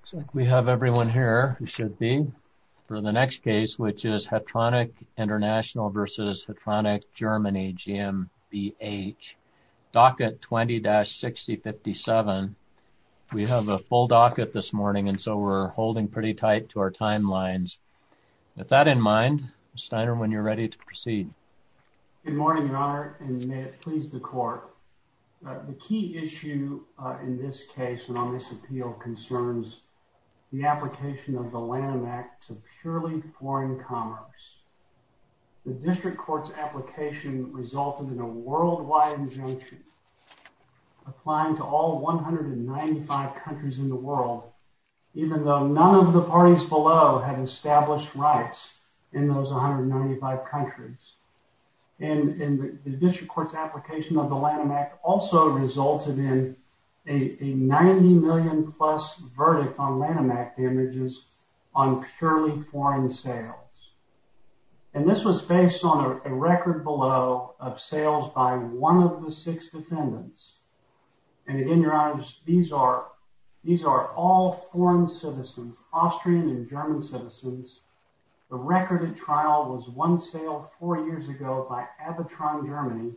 Looks like we have everyone here who should be for the next case which is Hetronic International v. Hetronic Germany GmbH. Docket 20-6057. We have a full docket this morning and so we're holding pretty tight to our timelines. With that in mind, Mr. Steiner, when you're ready to proceed. Good morning, your honor, and may it please the court. The key issue in this case and on this appeal concerns the application of the Lanham Act to purely foreign commerce. The district court's application resulted in a worldwide injunction applying to all 195 countries in the world, even though none of the parties below had established rights in those 195 countries. And the district court's application of the Lanham Act also resulted in a 90 million plus verdict on Lanham Act damages on purely foreign sales. And this was based on a record below of sales by one of the six defendants. And again, your honor, these are all foreign citizens, Austrian and German citizens. The record of trial was one sale four years ago by Abitron Germany,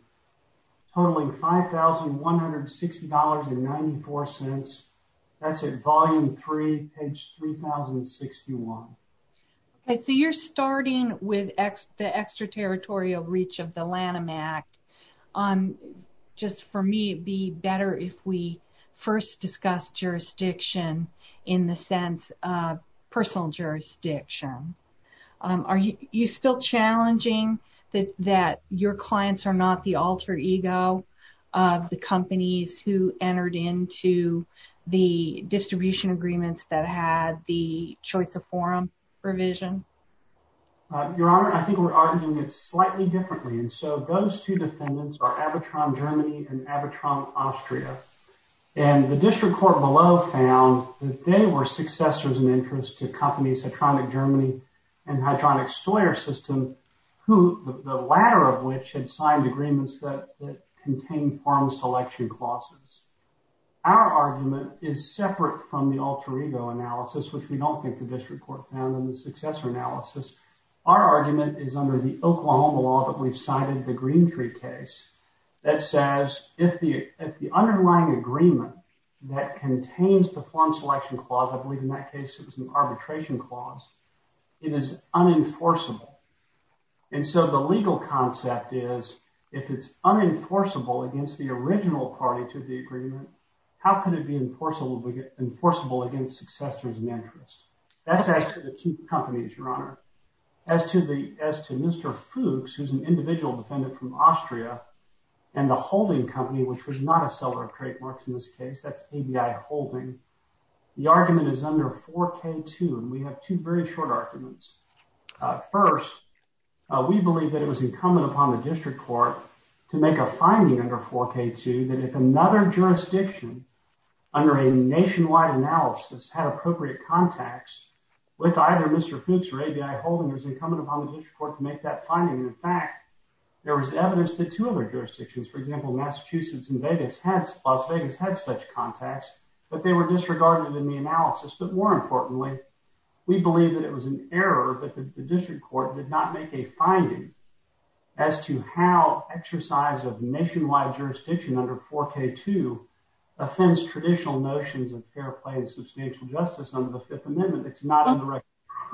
totaling $5,160.94. That's at volume three, page 3061. Okay, so you're starting with the extraterritorial reach of the Lanham Act. Just for me, it'd be better if we first discuss jurisdiction in the sense of personal jurisdiction. Are you still challenging that your clients are not the alter ego of the companies who entered into the distribution agreements that had the choice of forum provision? Your honor, I think we're arguing it slightly differently. And so those two defendants are Abitron Germany and Abitron Austria. And the district court below found that they were successors in interest to companies, Abitron Germany and Abitron Austria system, who the latter of which had signed agreements that contained form selection clauses. Our argument is separate from the alter ego analysis, which we don't think the district court found in the successor analysis. Our argument is under the Oklahoma law that we've cited the Green Tree case that says if the underlying agreement that contains the form selection clause, I believe in that case it was an arbitration clause, it is unenforceable. And so the legal concept is if it's unenforceable against the original party to the agreement, how could it be enforceable against successors in interest? That's as to the two companies, your honor. As to Mr. Fuchs, who's an individual defendant from Austria and the holding company, which was not a seller of trademarks in this case, that's ABI holding. The argument is under 4K2, and we have two very short arguments. First, we believe that it was incumbent upon the district court to make a finding under 4K2 that if another jurisdiction under a nationwide analysis had appropriate contacts with either Mr. Fuchs or ABI holding, it was incumbent upon the district court to make that finding. In fact, there was evidence that two other jurisdictions, for example, Massachusetts and Las Vegas had such contacts, but they were disregarded in the analysis. But more importantly, we believe that it was an error that the district court did not make a finding as to how exercise of nationwide jurisdiction under 4K2 offends traditional notions of fair play and substantial justice under the Fifth Amendment that's not in the record.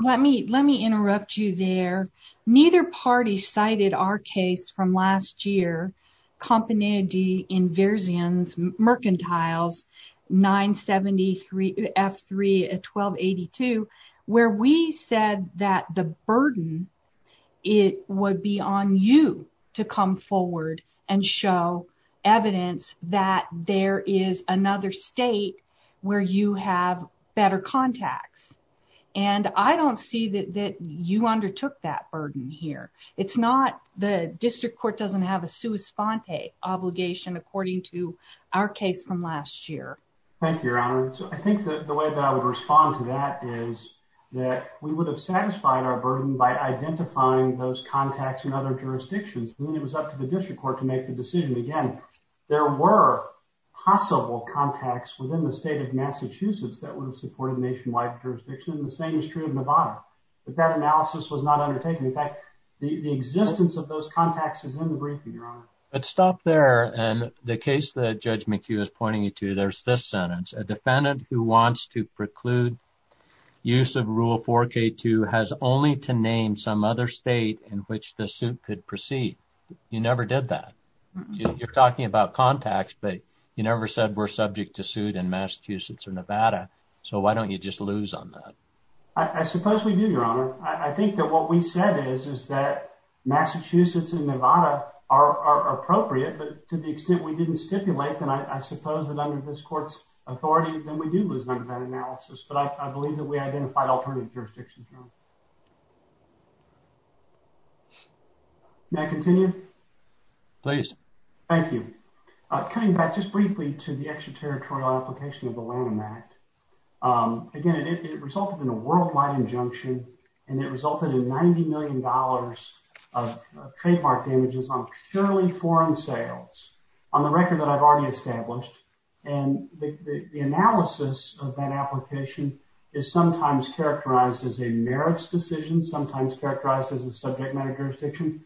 Let me interrupt you there. Neither party cited our case from last year Company de Inversions Mercantiles 973 F3 1282, where we said that the burden it would be on you to come forward and show evidence that there is another state where you have better contacts. And I don't see that you undertook that burden here. It's not the district court doesn't have a sua sponte obligation, according to our case from last year. Thank you, Your Honor. So I think that the way that I would respond to that is that we would have satisfied our burden by identifying those contacts in other jurisdictions. Then it was up to the district court to make the decision again. There were possible contacts within the state of Massachusetts that would have supported nationwide jurisdiction, and the same is true of Nevada. But that analysis was not undertaken. In fact, the existence of those contacts is in the briefing, Your Honor. But stop there. And the case that Judge McHugh is pointing you to, there's this sentence, a defendant who wants to preclude use of Rule 4K2 has only to name some other state in which the suit could proceed. You never did that. You're talking about contacts, but you never said we're subject to suit in Massachusetts or Nevada. So why don't you just lose on that? I suppose we do, Your Honor. I think that what we said is, is that Massachusetts and Nevada are appropriate, but to the extent we didn't stipulate, then I suppose that under this court's authority, then we do lose under that analysis. But I believe that we identified alternative jurisdictions wrong. May I continue? Please. Thank you. Cutting back just briefly to the extraterritorial application of the Lanham Act, again, it resulted in a worldwide injunction, and it resulted in $90 million of trademark damages on purely foreign sales on the record that I've already established. And the analysis of that application is sometimes characterized as a merits decision, sometimes characterized as a subject matter jurisdiction.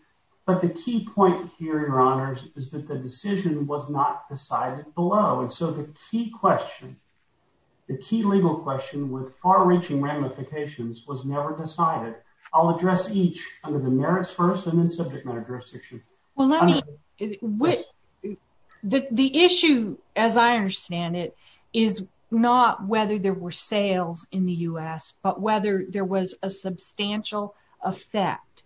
But the key point here, Your Honors, is that the question, the key legal question with far-reaching ramifications was never decided. I'll address each under the merits first and then subject matter jurisdiction. Well, let me, the issue, as I understand it, is not whether there were sales in the U.S., but whether there was a substantial effect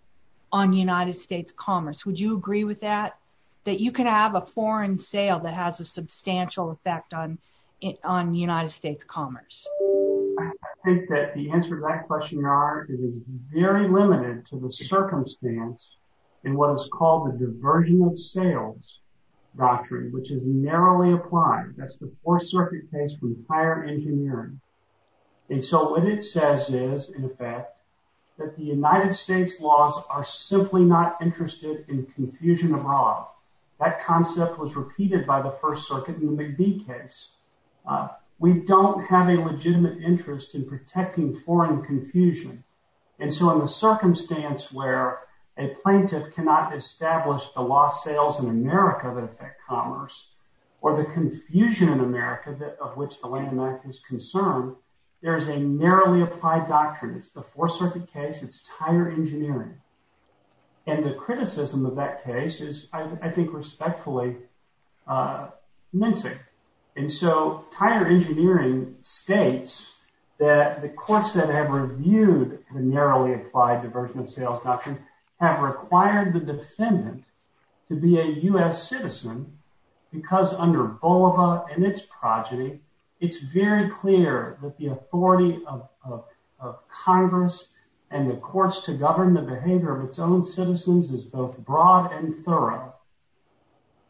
on United States commerce. Would you agree with that, that you can have a foreign sale that has a substantial effect on United States commerce? I think that the answer to that question, Your Honor, is very limited to the circumstance in what is called the Diversion of Sales Doctrine, which is narrowly applied. That's the Fourth Circuit case from Tire Engineering. And so what it says is, in effect, that the United States commerce is a narrowly applied doctrine. It's the Fourth Circuit case. It's Tire Engineering. That concept was repeated by the First Circuit in the McBee case. We don't have a legitimate interest in protecting foreign confusion. And so in the circumstance where a plaintiff cannot establish the lost sales in America that affect commerce, or the confusion in America of which the Lanham Act is concerned, there is a narrowly applied doctrine. It's the Fourth Circuit case. It's Tire Engineering. And the criticism of that case is, I think, respectfully mincing. And so Tire Engineering states that the courts that have reviewed the narrowly applied Diversion of Sales Doctrine have required the defendant to be a U.S. citizen because under and its progeny, it's very clear that the authority of Congress and the courts to govern the behavior of its own citizens is both broad and thorough.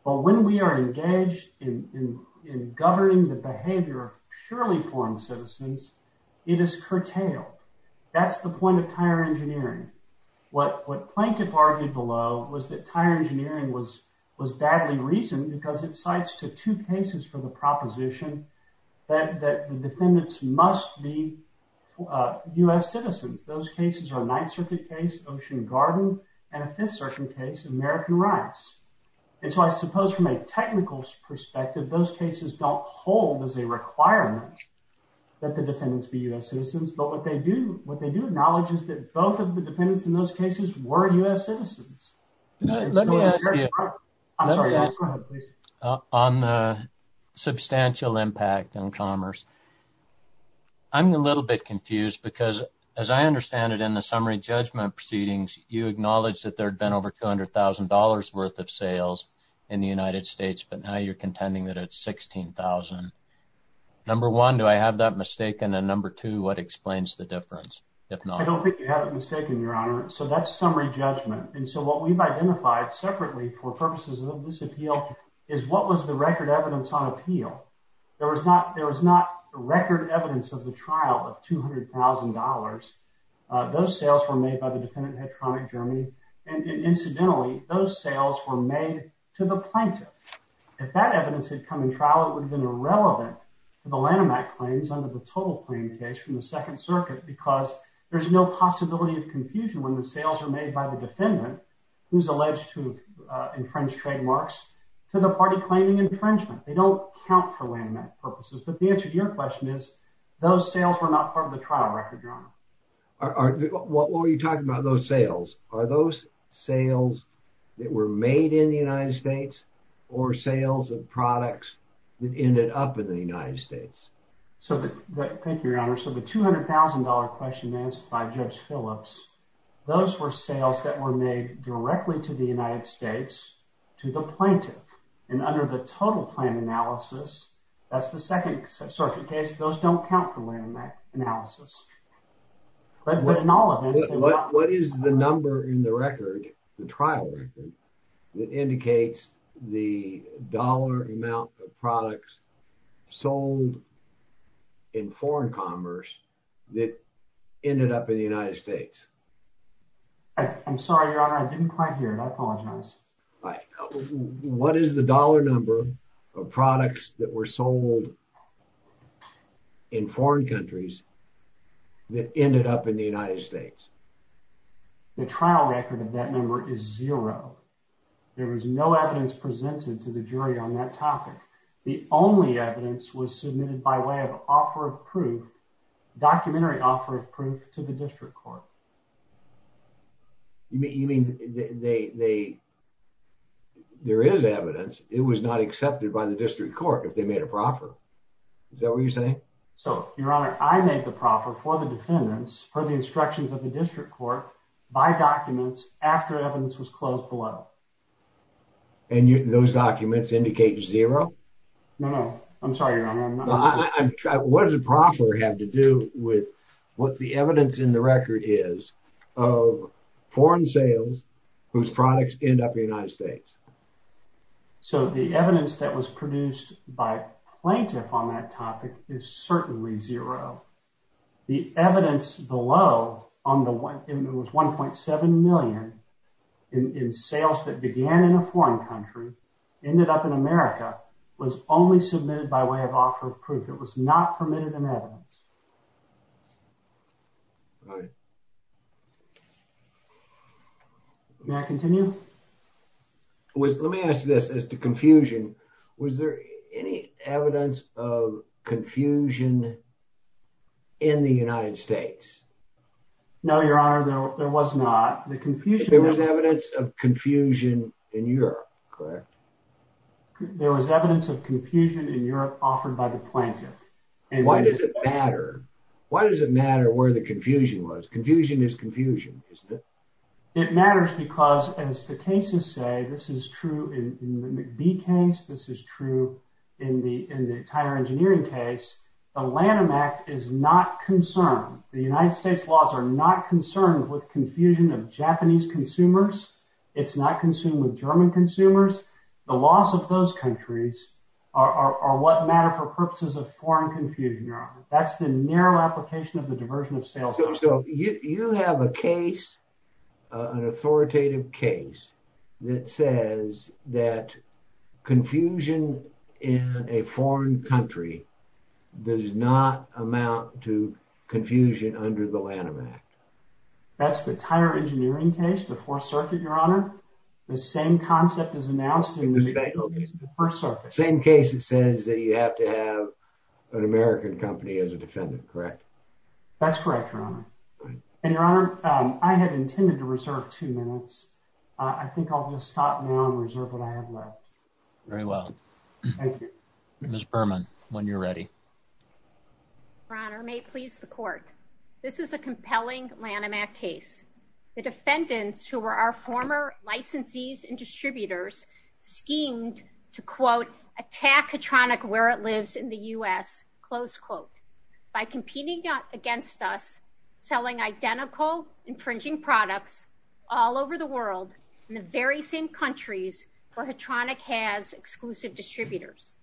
But when we are engaged in governing the behavior of purely foreign citizens, it is curtailed. That's the point of Tire Engineering. What plaintiff argued below was that Tire Engineering was badly reasoned because it proposition that the defendants must be U.S. citizens. Those cases are a Ninth Circuit case, Ocean Garden, and a Fifth Circuit case, American Rights. And so I suppose from a technical perspective, those cases don't hold as a requirement that the defendants be U.S. citizens. But what they do acknowledge is that both of the defendants in those cases were U.S. citizens. Let me ask you on the substantial impact on commerce. I'm a little bit confused because as I understand it in the summary judgment proceedings, you acknowledge that there had been over $200,000 worth of sales in the United States, but now you're contending that it's $16,000. Number one, do I have that mistaken? And number two, what explains the difference? I don't think you have it mistaken, Your Honor. So that's summary judgment. And so we've identified separately for purposes of this appeal is what was the record evidence on appeal? There was not record evidence of the trial of $200,000. Those sales were made by the defendant Hedtronic Germany. And incidentally, those sales were made to the plaintiff. If that evidence had come in trial, it would have been irrelevant to the Lanham Act claims under the total claim case from the Second Circuit because there's no possibility of confusion when the sales are made by the defendant who's alleged to infringe trademarks to the party claiming infringement. They don't count for Lanham Act purposes. But the answer to your question is those sales were not part of the trial record, Your Honor. What were you talking about those sales? Are those sales that were made in the United States or sales of products that ended up in the United States? Thank you, Your Honor. So the $200,000 question asked by Judge Phillips, those were sales that were made directly to the United States to the plaintiff. And under the total plan analysis, that's the Second Circuit case. Those don't count for Lanham Act analysis. What is the number in the record, the trial record, that indicates the dollar amount of products sold in foreign commerce that ended up in the United States? I'm sorry, Your Honor. I didn't quite hear it. I apologize. What is the dollar number of products that were sold in foreign countries that ended up in the United States? The trial record of that number is zero. There was no evidence presented to the jury on that topic. The only evidence was submitted by way of offer of proof, documentary offer of proof to the district court. You mean there is evidence, it was not accepted by the district court if they made a proffer? Is that what you're saying? So, Your Honor, I made the proffer for the defendants per the instructions of the district court by documents after evidence was closed below. And those documents indicate zero? No, no. I'm sorry, Your Honor. What does a proffer have to do with what the evidence in the record is of foreign sales whose products end up in the United States? So, the evidence that was produced by plaintiff on that topic is certainly zero. The evidence below, it was $1.7 million in sales that began in a foreign country, ended up in America, was only submitted by way of offer of proof. It was not permitted in evidence. May I continue? Let me ask this as to confusion. Was there any evidence of confusion in the United States? No, Your Honor, there was not. There was evidence of confusion in Europe, correct? There was evidence of confusion in Europe offered by the plaintiff. Why does it matter? Why does it matter where the confusion was? Confusion is confusion, isn't it? It matters because, as the cases say, this is true in the McBee case, this is true in the entire engineering case. The Lanham Act is not concerned. The United States laws are not concerned with confusion of Japanese consumers. It's not concerned with German consumers. The laws of those countries are what matter for purposes of foreign confusion, Your Honor. That's the narrow application of the diversion of sales. So you have a case, an authoritative case, that says that confusion in a foreign country does not amount to confusion under the Lanham Act. That's the entire engineering case, the Fourth Circuit, Your Honor. The same concept is announced in the first circuit. Same case that says that you have to have an American company as a defendant, correct? That's correct, Your Honor. And, Your Honor, I had intended to reserve two minutes. I think I'll just stop now and reserve what I have left. Very well. Thank you. Ms. Berman, when you're ready. Your Honor, may it please the Court, this is a compelling Lanham Act case. The defendants, who were our former licensees and distributors, schemed to, quote, attack Hatronic where it lives in the U.S., close quote, by competing against us, selling identical infringing products all over the world in the very same countries where Hatronic has exclusive distributors.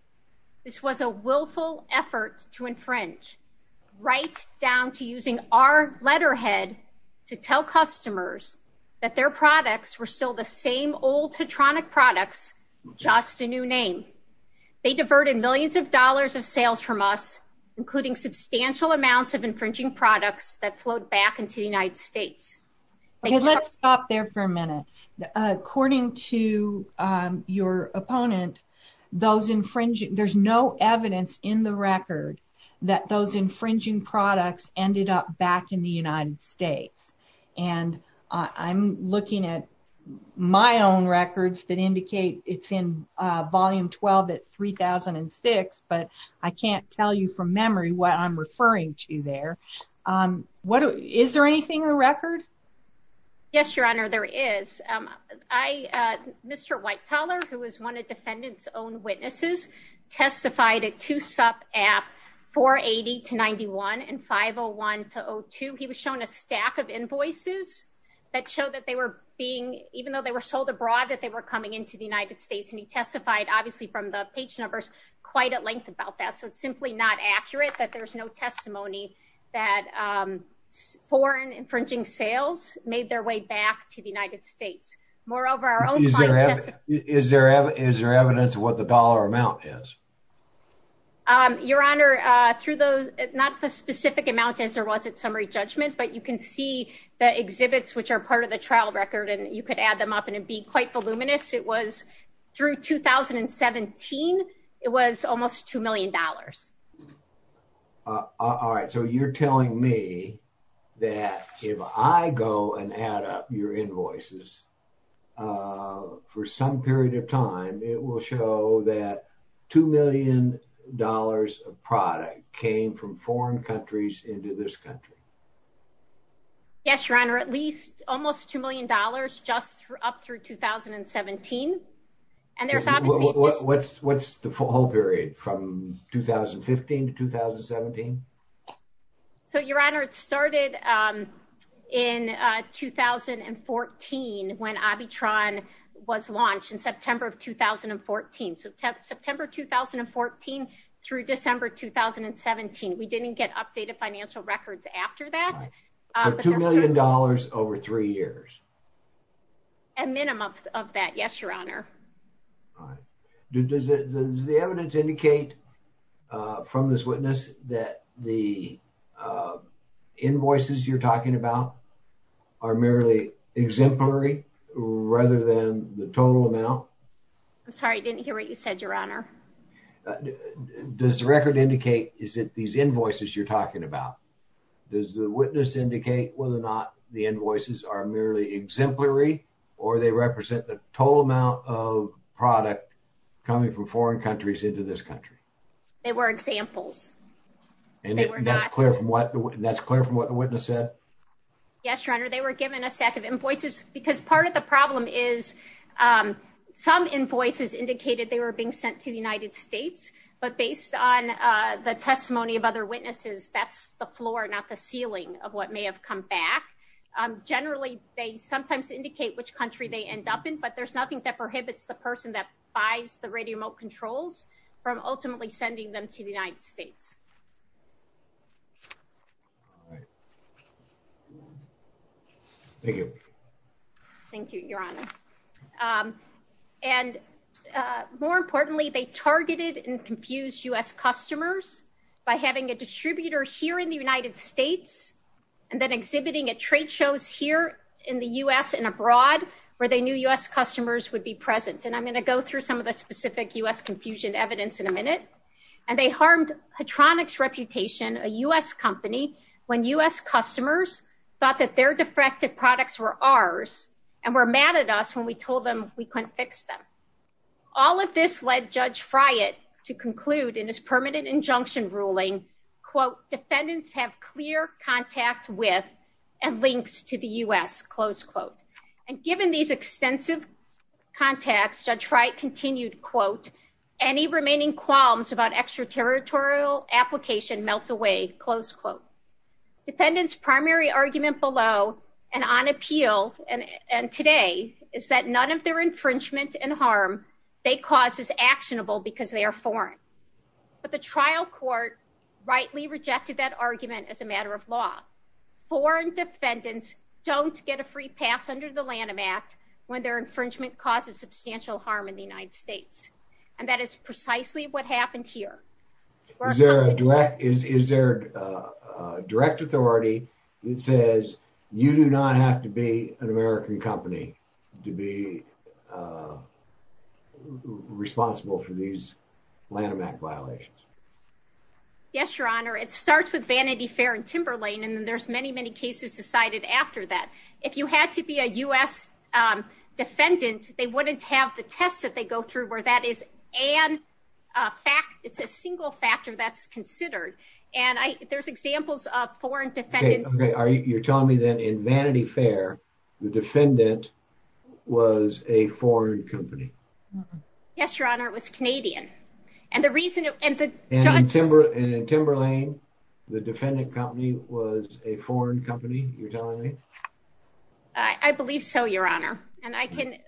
This was a willful effort to infringe, right down to using our letterhead to tell customers that their products were still the same old Hatronic products, just a new name. They diverted millions of dollars of sales from us, including substantial amounts of infringing products that flowed back into the United States. Okay, let's stop there for a minute. According to your opponent, there's no evidence in the record that those infringing products ended up back in the United States. And I'm looking at my own records that indicate it's in Volume 12 at 3006, but I can't tell you from memory what I'm referring to there. Is there anything in the record? Yes, Your Honor, there is. Mr. White-Teller, who is one of defendants' own witnesses, testified at 2-SUP at 480-91 and 501-02. He was shown a stack of invoices that showed that they were being, even though they were sold abroad, that they were coming into the United States. And he testified, obviously, from the page numbers, quite at length about that. So it's simply not accurate that there's no testimony that foreign infringing sales made their way back to the United States. Moreover, our own client testified. Is there evidence of what the dollar amount is? Your Honor, not the specific amount as there was at summary judgment, but you can see the exhibits, which are part of the trial record, and you could add them up and it'd be quite voluminous. It was through 2017, it was almost $2 million. All right, so you're telling me that if I go and add up your invoices for some period of time, it will show that $2 million of product came from foreign countries into this country? Yes, Your Honor, at least almost $2 million just up through 2017. And what's the full period from 2015 to 2017? So, Your Honor, it started in 2014 when AviTron was launched in September of 2014. So September 2014 through December 2017, we didn't get updated financial records after that. So $2 million over three years? A minimum of that, yes, Your Honor. All right. Does the evidence indicate from this witness that the invoices you're talking about are merely exemplary rather than the total amount? I'm sorry, I didn't hear what you said, Your Honor. Does the record indicate is it these invoices you're talking about? Does the witness indicate whether or not the invoices are merely exemplary or they represent the total amount of product coming from foreign countries into this country? They were examples. And that's clear from what the witness said? Yes, Your Honor, they were given a stack of invoices because part of the problem is some invoices indicated they were being sent to the United States, but based on the testimony of other witnesses, that's the floor, not the ceiling of what may have come back. Generally, they sometimes indicate which country they end up in, but there's nothing that prohibits the person that buys the radio remote controls from ultimately sending them to the United States. Thank you. Thank you, Your Honor. And more importantly, they targeted and confused U.S. customers by having a distributor here in the United States and then exhibiting at trade shows here in the U.S. and abroad where they knew U.S. customers would be present. And I'm going to go through some of the specific U.S. confusion evidence in a minute. And they harmed Petronix's reputation, a U.S. company, when U.S. customers thought that their defective products were ours and were mad at us when we told them we couldn't fix them. All of this led Judge Friant to conclude in his permanent injunction ruling, quote, defendants have clear contact with and links to the U.S., close quote. And given these extensive contacts, Judge Friant continued, quote, any remaining qualms about extraterritorial application melt away, close quote. Defendants' primary argument below and on appeal and today is that none of their infringement and harm they cause is actionable because they are foreign. But the trial court rightly rejected that argument as a matter of law. Foreign defendants don't get a free pass under the Lanham Act when their infringement causes substantial harm in the United States. And that is precisely what happened here. Is there a direct authority that says you do not have to be an American company to be responsible for these Lanham Act violations? Yes, Your Honor. It starts with Vanity Fair and Timberlane, and then there's many, many cases decided after that. If you had to be a U.S. defendant, they wouldn't have the tests that they go through where that is an fact. It's a single factor that's considered. And there's examples of foreign defendants. Okay. You're telling me that in Vanity Fair, the defendant was a foreign company? Yes, Your Honor. It was Canadian. And in Timberlane, the defendant company was a foreign company, you're telling me? I believe so, Your Honor. And I can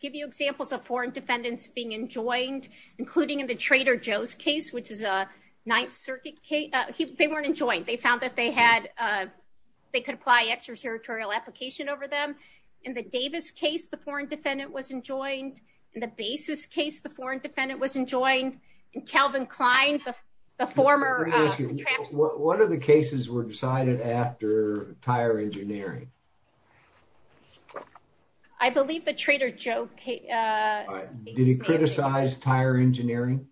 give you examples of foreign defendants being enjoined, including in the Trader Joe's case, which is a Ninth Circuit case. They weren't enjoined. They found that they could apply extraterritorial application over them. In the Davis case, the foreign defendant was enjoined. In the Bases case, the foreign defendant was enjoined. In Calvin Klein, the former... What are the cases were decided after tire engineering? I believe the Trader Joe... Did he criticize tire engineering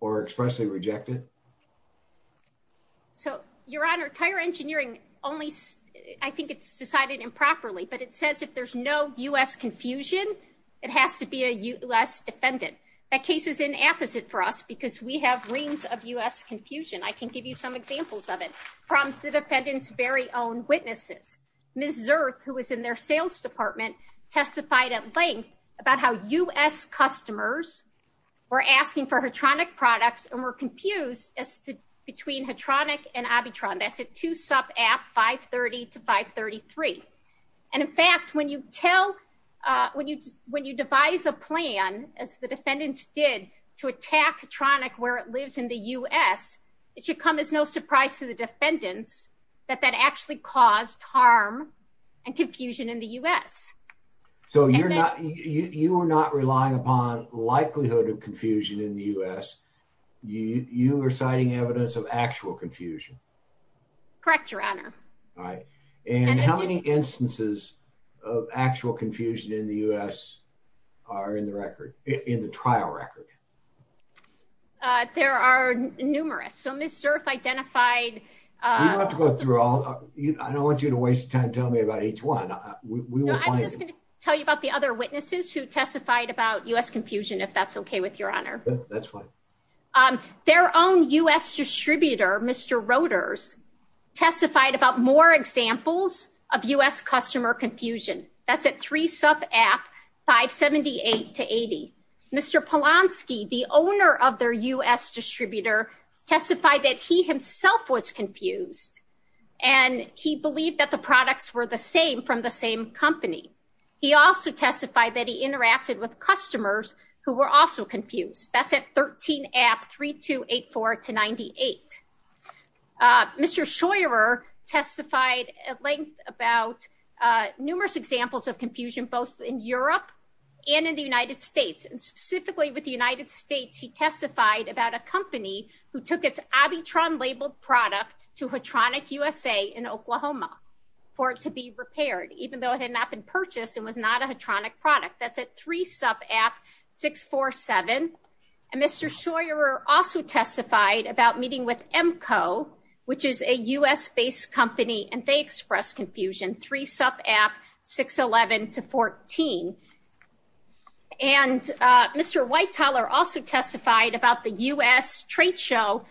or expressly reject it? So, Your Honor, tire engineering only... I think it's decided improperly, but it says if there's no U.S. confusion, it has to be a U.S. defendant. That case is inapposite for us because we have reams of U.S. confusion. I can give you some examples of it from the defendant's very own witnesses. Ms. Zirth, who was in their sales department, testified at length about how U.S. customers were asking for Hatronic products and were confused between Hatronic and Abitron. That's a two-sub app, 530 to 533. And in fact, when you tell... When you devise a plan, as the defendants did, to attack Hatronic where it lives in the U.S., it should come as no surprise to the defendants that that actually caused harm and confusion in the U.S. So, you're not... You are not relying upon likelihood of confusion in the U.S. You are citing evidence of actual confusion? Correct, Your Honor. All right. And how many instances of actual confusion in the U.S. are in the record, in the trial record? There are numerous. So, Ms. Zirth identified... You don't have to go through all... I don't want you to waste time telling me about each one. No, I'm just going to tell you about the other witnesses who testified about U.S. confusion, if that's okay with Your Honor. That's fine. Their own U.S. distributor, Mr. Roeders, testified about more examples of U.S. customer confusion. That's a three-sub app, 578 to 80. Mr. Polonsky, the owner of their U.S. distributor, testified that he himself was confused and he believed that the products were the same from the same company. He also testified that he interacted with customers who were also confused. That's at 13 app 3284 to 98. Mr. Scheurer testified at length about numerous examples of confusion, both in Europe and in the United States. And specifically with the United States, he testified about a company who took its Abitron-labeled product to Hatronic USA in Oklahoma for it to be repaired, even though it had not been purchased and was not a Hatronic product. That's at three-sub app 647. And Mr. Scheurer also testified about meeting with Emco, which is a U.S.-based company, and they expressed confusion, three-sub app 611 to 14. And Mr. Whiteler also testified about the U.S. trade show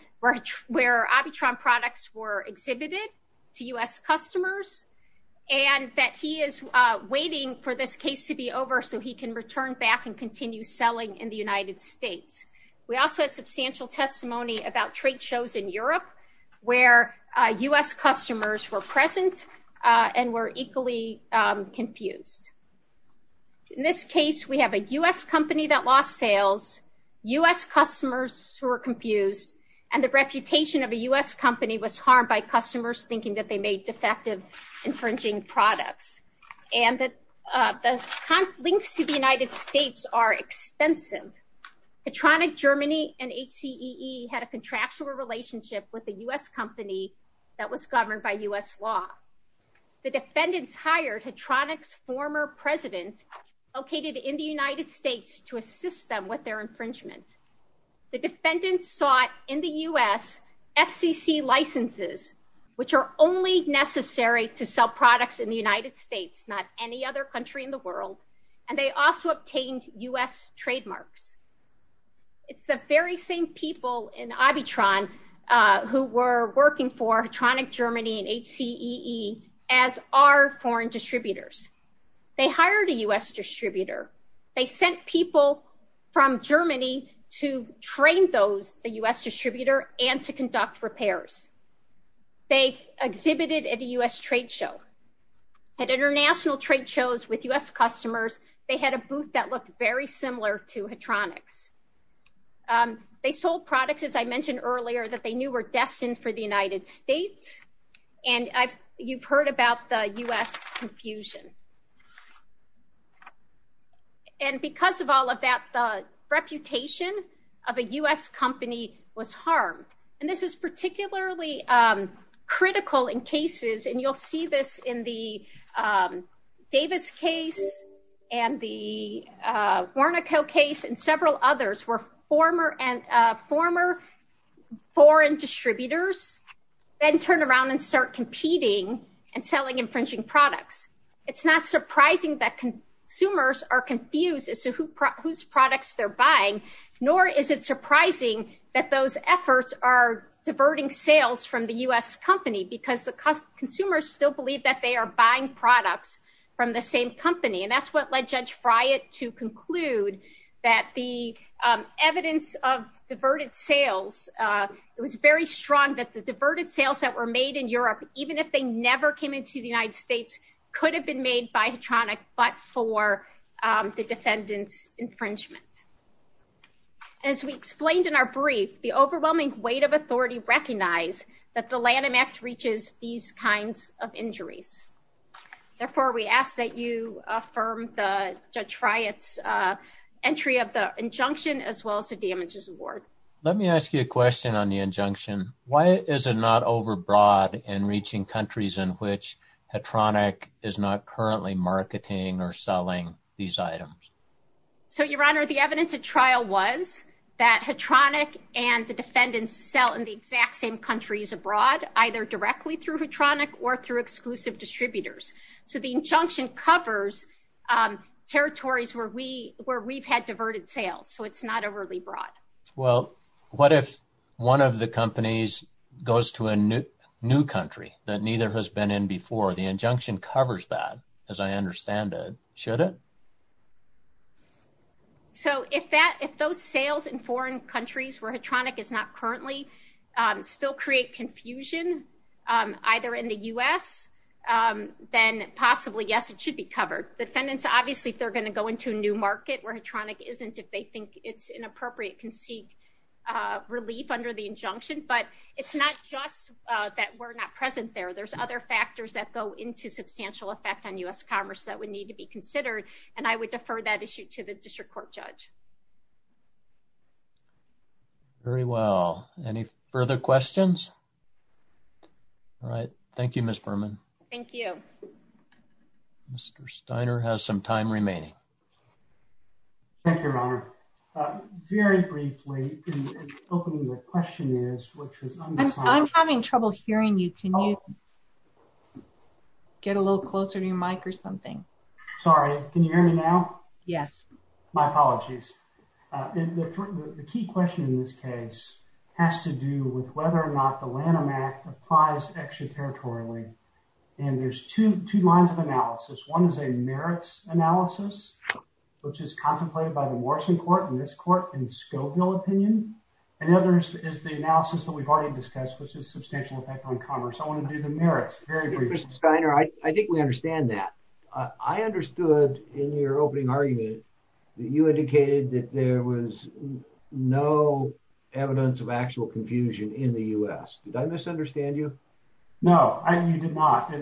where Abitron products were exhibited to U.S. customers, and that he is waiting for this case to be over so he can return back and continue selling in the United States. We also had substantial testimony about trade shows in Europe where U.S. customers were present and were equally confused. In this case, we have a U.S. company that lost sales, U.S. customers who were confused, and the reputation of a U.S. company was harmed by customers thinking that they made defective infringing products. And the links to the United States are extensive. Hatronic Germany and HCEE had a contractual relationship with a U.S. company that was governed by U.S. law. The defendants hired Hatronic's former president located in the United States to assist them with their infringement. The defendants sought in the U.S. FCC licenses, which are only necessary to sell products in the United States, not any other country in the world, and they also obtained U.S. trademarks. It's the very same people in Abitron who were working for Hatronic Germany and HCEE as our foreign distributors. They hired a U.S. distributor. They sent people from Germany to train those, the U.S. distributor, and to conduct repairs. They exhibited at a U.S. trade show. At international trade shows with U.S. customers, they had a booth that looked very similar to Hatronic's. They sold products, as I mentioned earlier, that they knew were destined for the United States. And you've heard about the U.S. confusion. And because of all of that, the reputation of a U.S. company was harmed. And this is particularly critical in cases, and you'll see this in the Davis case and the Wernicke case and several others, where former foreign distributors then turn around and start competing and selling infringing products. It's not surprising that consumers are confused as to whose products they're buying, nor is it surprising that those efforts are diverting sales from the U.S. company because the consumers still believe that they are buying products from the same company. And that's what led Judge Friot to conclude that the evidence of diverted sales, it was very strong that the diverted sales that were made in Europe, even if they never came into the United States, could have been made by Hatronic, but for the defendant's infringement. As we explained in our brief, the overwhelming weight of authority recognized that the Lanham Act reaches these kinds of injuries. Therefore, we ask that you affirm Judge Friot's entry of the injunction as well as the damages award. Let me ask you a question on the injunction. Why is it not overbroad in reaching countries in which Hatronic is not currently marketing or selling these items? So, Your Honor, the evidence at trial was that Hatronic and the defendants sell in the exact same countries abroad, either directly through Hatronic or through exclusive distributors. So, the injunction covers territories where we've had diverted sales. So, it's not overly broad. Well, what if one of the companies goes to a new country that neither has been in before? The injunction covers that, as I understand it. Should it? So, if those sales in foreign countries where Hatronic is not currently still create confusion, either in the U.S., then possibly, yes, it should be covered. Defendants, obviously, if they're going to go into a new market where Hatronic isn't, if they think it's inappropriate, can seek relief under the injunction. But it's not just that we're not present there. There's other factors that go into substantial effect on U.S. commerce that would need to be considered. And I would defer that issue to the district court judge. Very well. Any further questions? All right. Thank you, Ms. Berman. Thank you. Mr. Steiner has some time remaining. Thank you, Your Honor. Very briefly, in opening the questionnaires, which was undecided. I'm having trouble hearing you. Can you get a little closer to your mic or something? Sorry. Can you hear me now? Yes. My apologies. The key question in this case has to do with whether or not the Lanham Act applies extraterritorially. And there's two lines of analysis. One is a merits analysis, which is contemplated by the Morrison Court and this court in Scoville opinion. And the other is the analysis that we've already discussed, which is substantial effect on commerce. I want to do the merits very briefly. Mr. Steiner, I think we understand that. I understood in your opening argument that you indicated that there was no evidence of actual confusion in the U.S. Did I misunderstand you? No, you did not.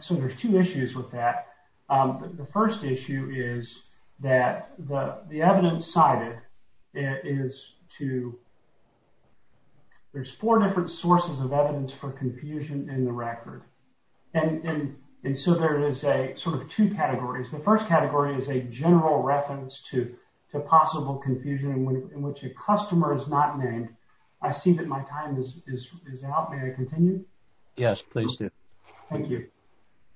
So there's two issues with that. The first issue is that the evidence cited is to... There's four different sources of evidence for confusion in the record. And so there is a sort of two categories. The first category is a general reference to possible confusion in which a customer is not named. I see that my time is out. May I continue? Yes, please do. Thank you.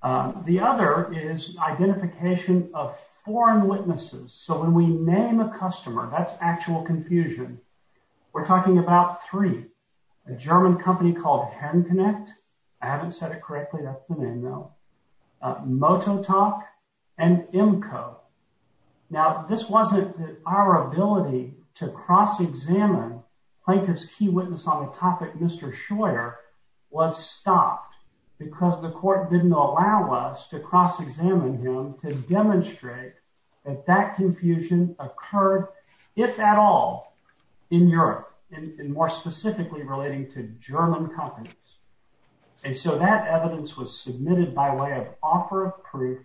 The other is identification of foreign witnesses. So when we name a customer, that's actual confusion. We're talking about three. A German company called HandConnect. I haven't said it correctly. That's the name, though. Mototok and Imco. Now, this wasn't our ability to cross-examine plaintiff's key witness on the topic, Mr. Scheuer, was stopped because the court didn't allow us to cross-examine him to demonstrate that that confusion occurred, if at all, in Europe and more specifically relating to German companies. And so that evidence was submitted by way of offer of proof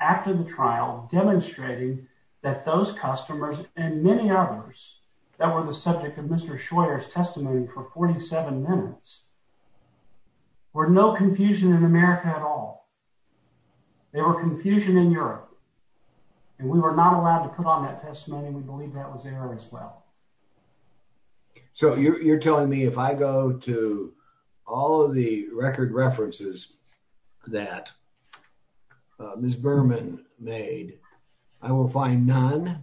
after the trial, demonstrating that those customers and many others that were the subject of Mr. Scheuer's testimony for 47 minutes were no confusion in America at all. They were confusion in Europe. And we were not allowed to put on that testimony. We believe that was error as well. So you're telling me if I go to all of the record references that Ms. Berman made, I will find none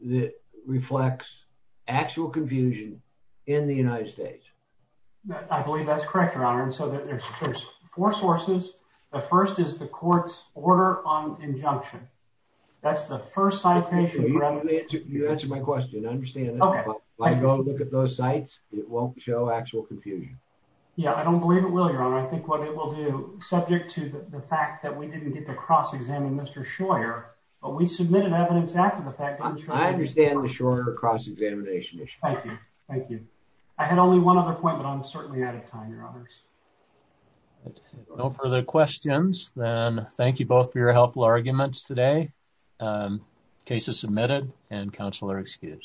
that reflects actual confusion in the United States? I believe that's correct, Your Honor. And so there's four sources. The first is the court's order on injunction. That's the first citation. You answered my question. Understand that if I go look at those sites, it won't show actual confusion. Yeah, I don't believe it will, Your Honor. I think what it will do, subject to the fact that we didn't get to cross-examine Mr. Scheuer, but we submitted evidence after the fact. I understand the Scheuer cross-examination issue. Thank you. Thank you. I had only one other point, but I'm certainly out of time, Your Honors. No further questions. Then thank you both for your helpful arguments today. Case is submitted and counsel are excused.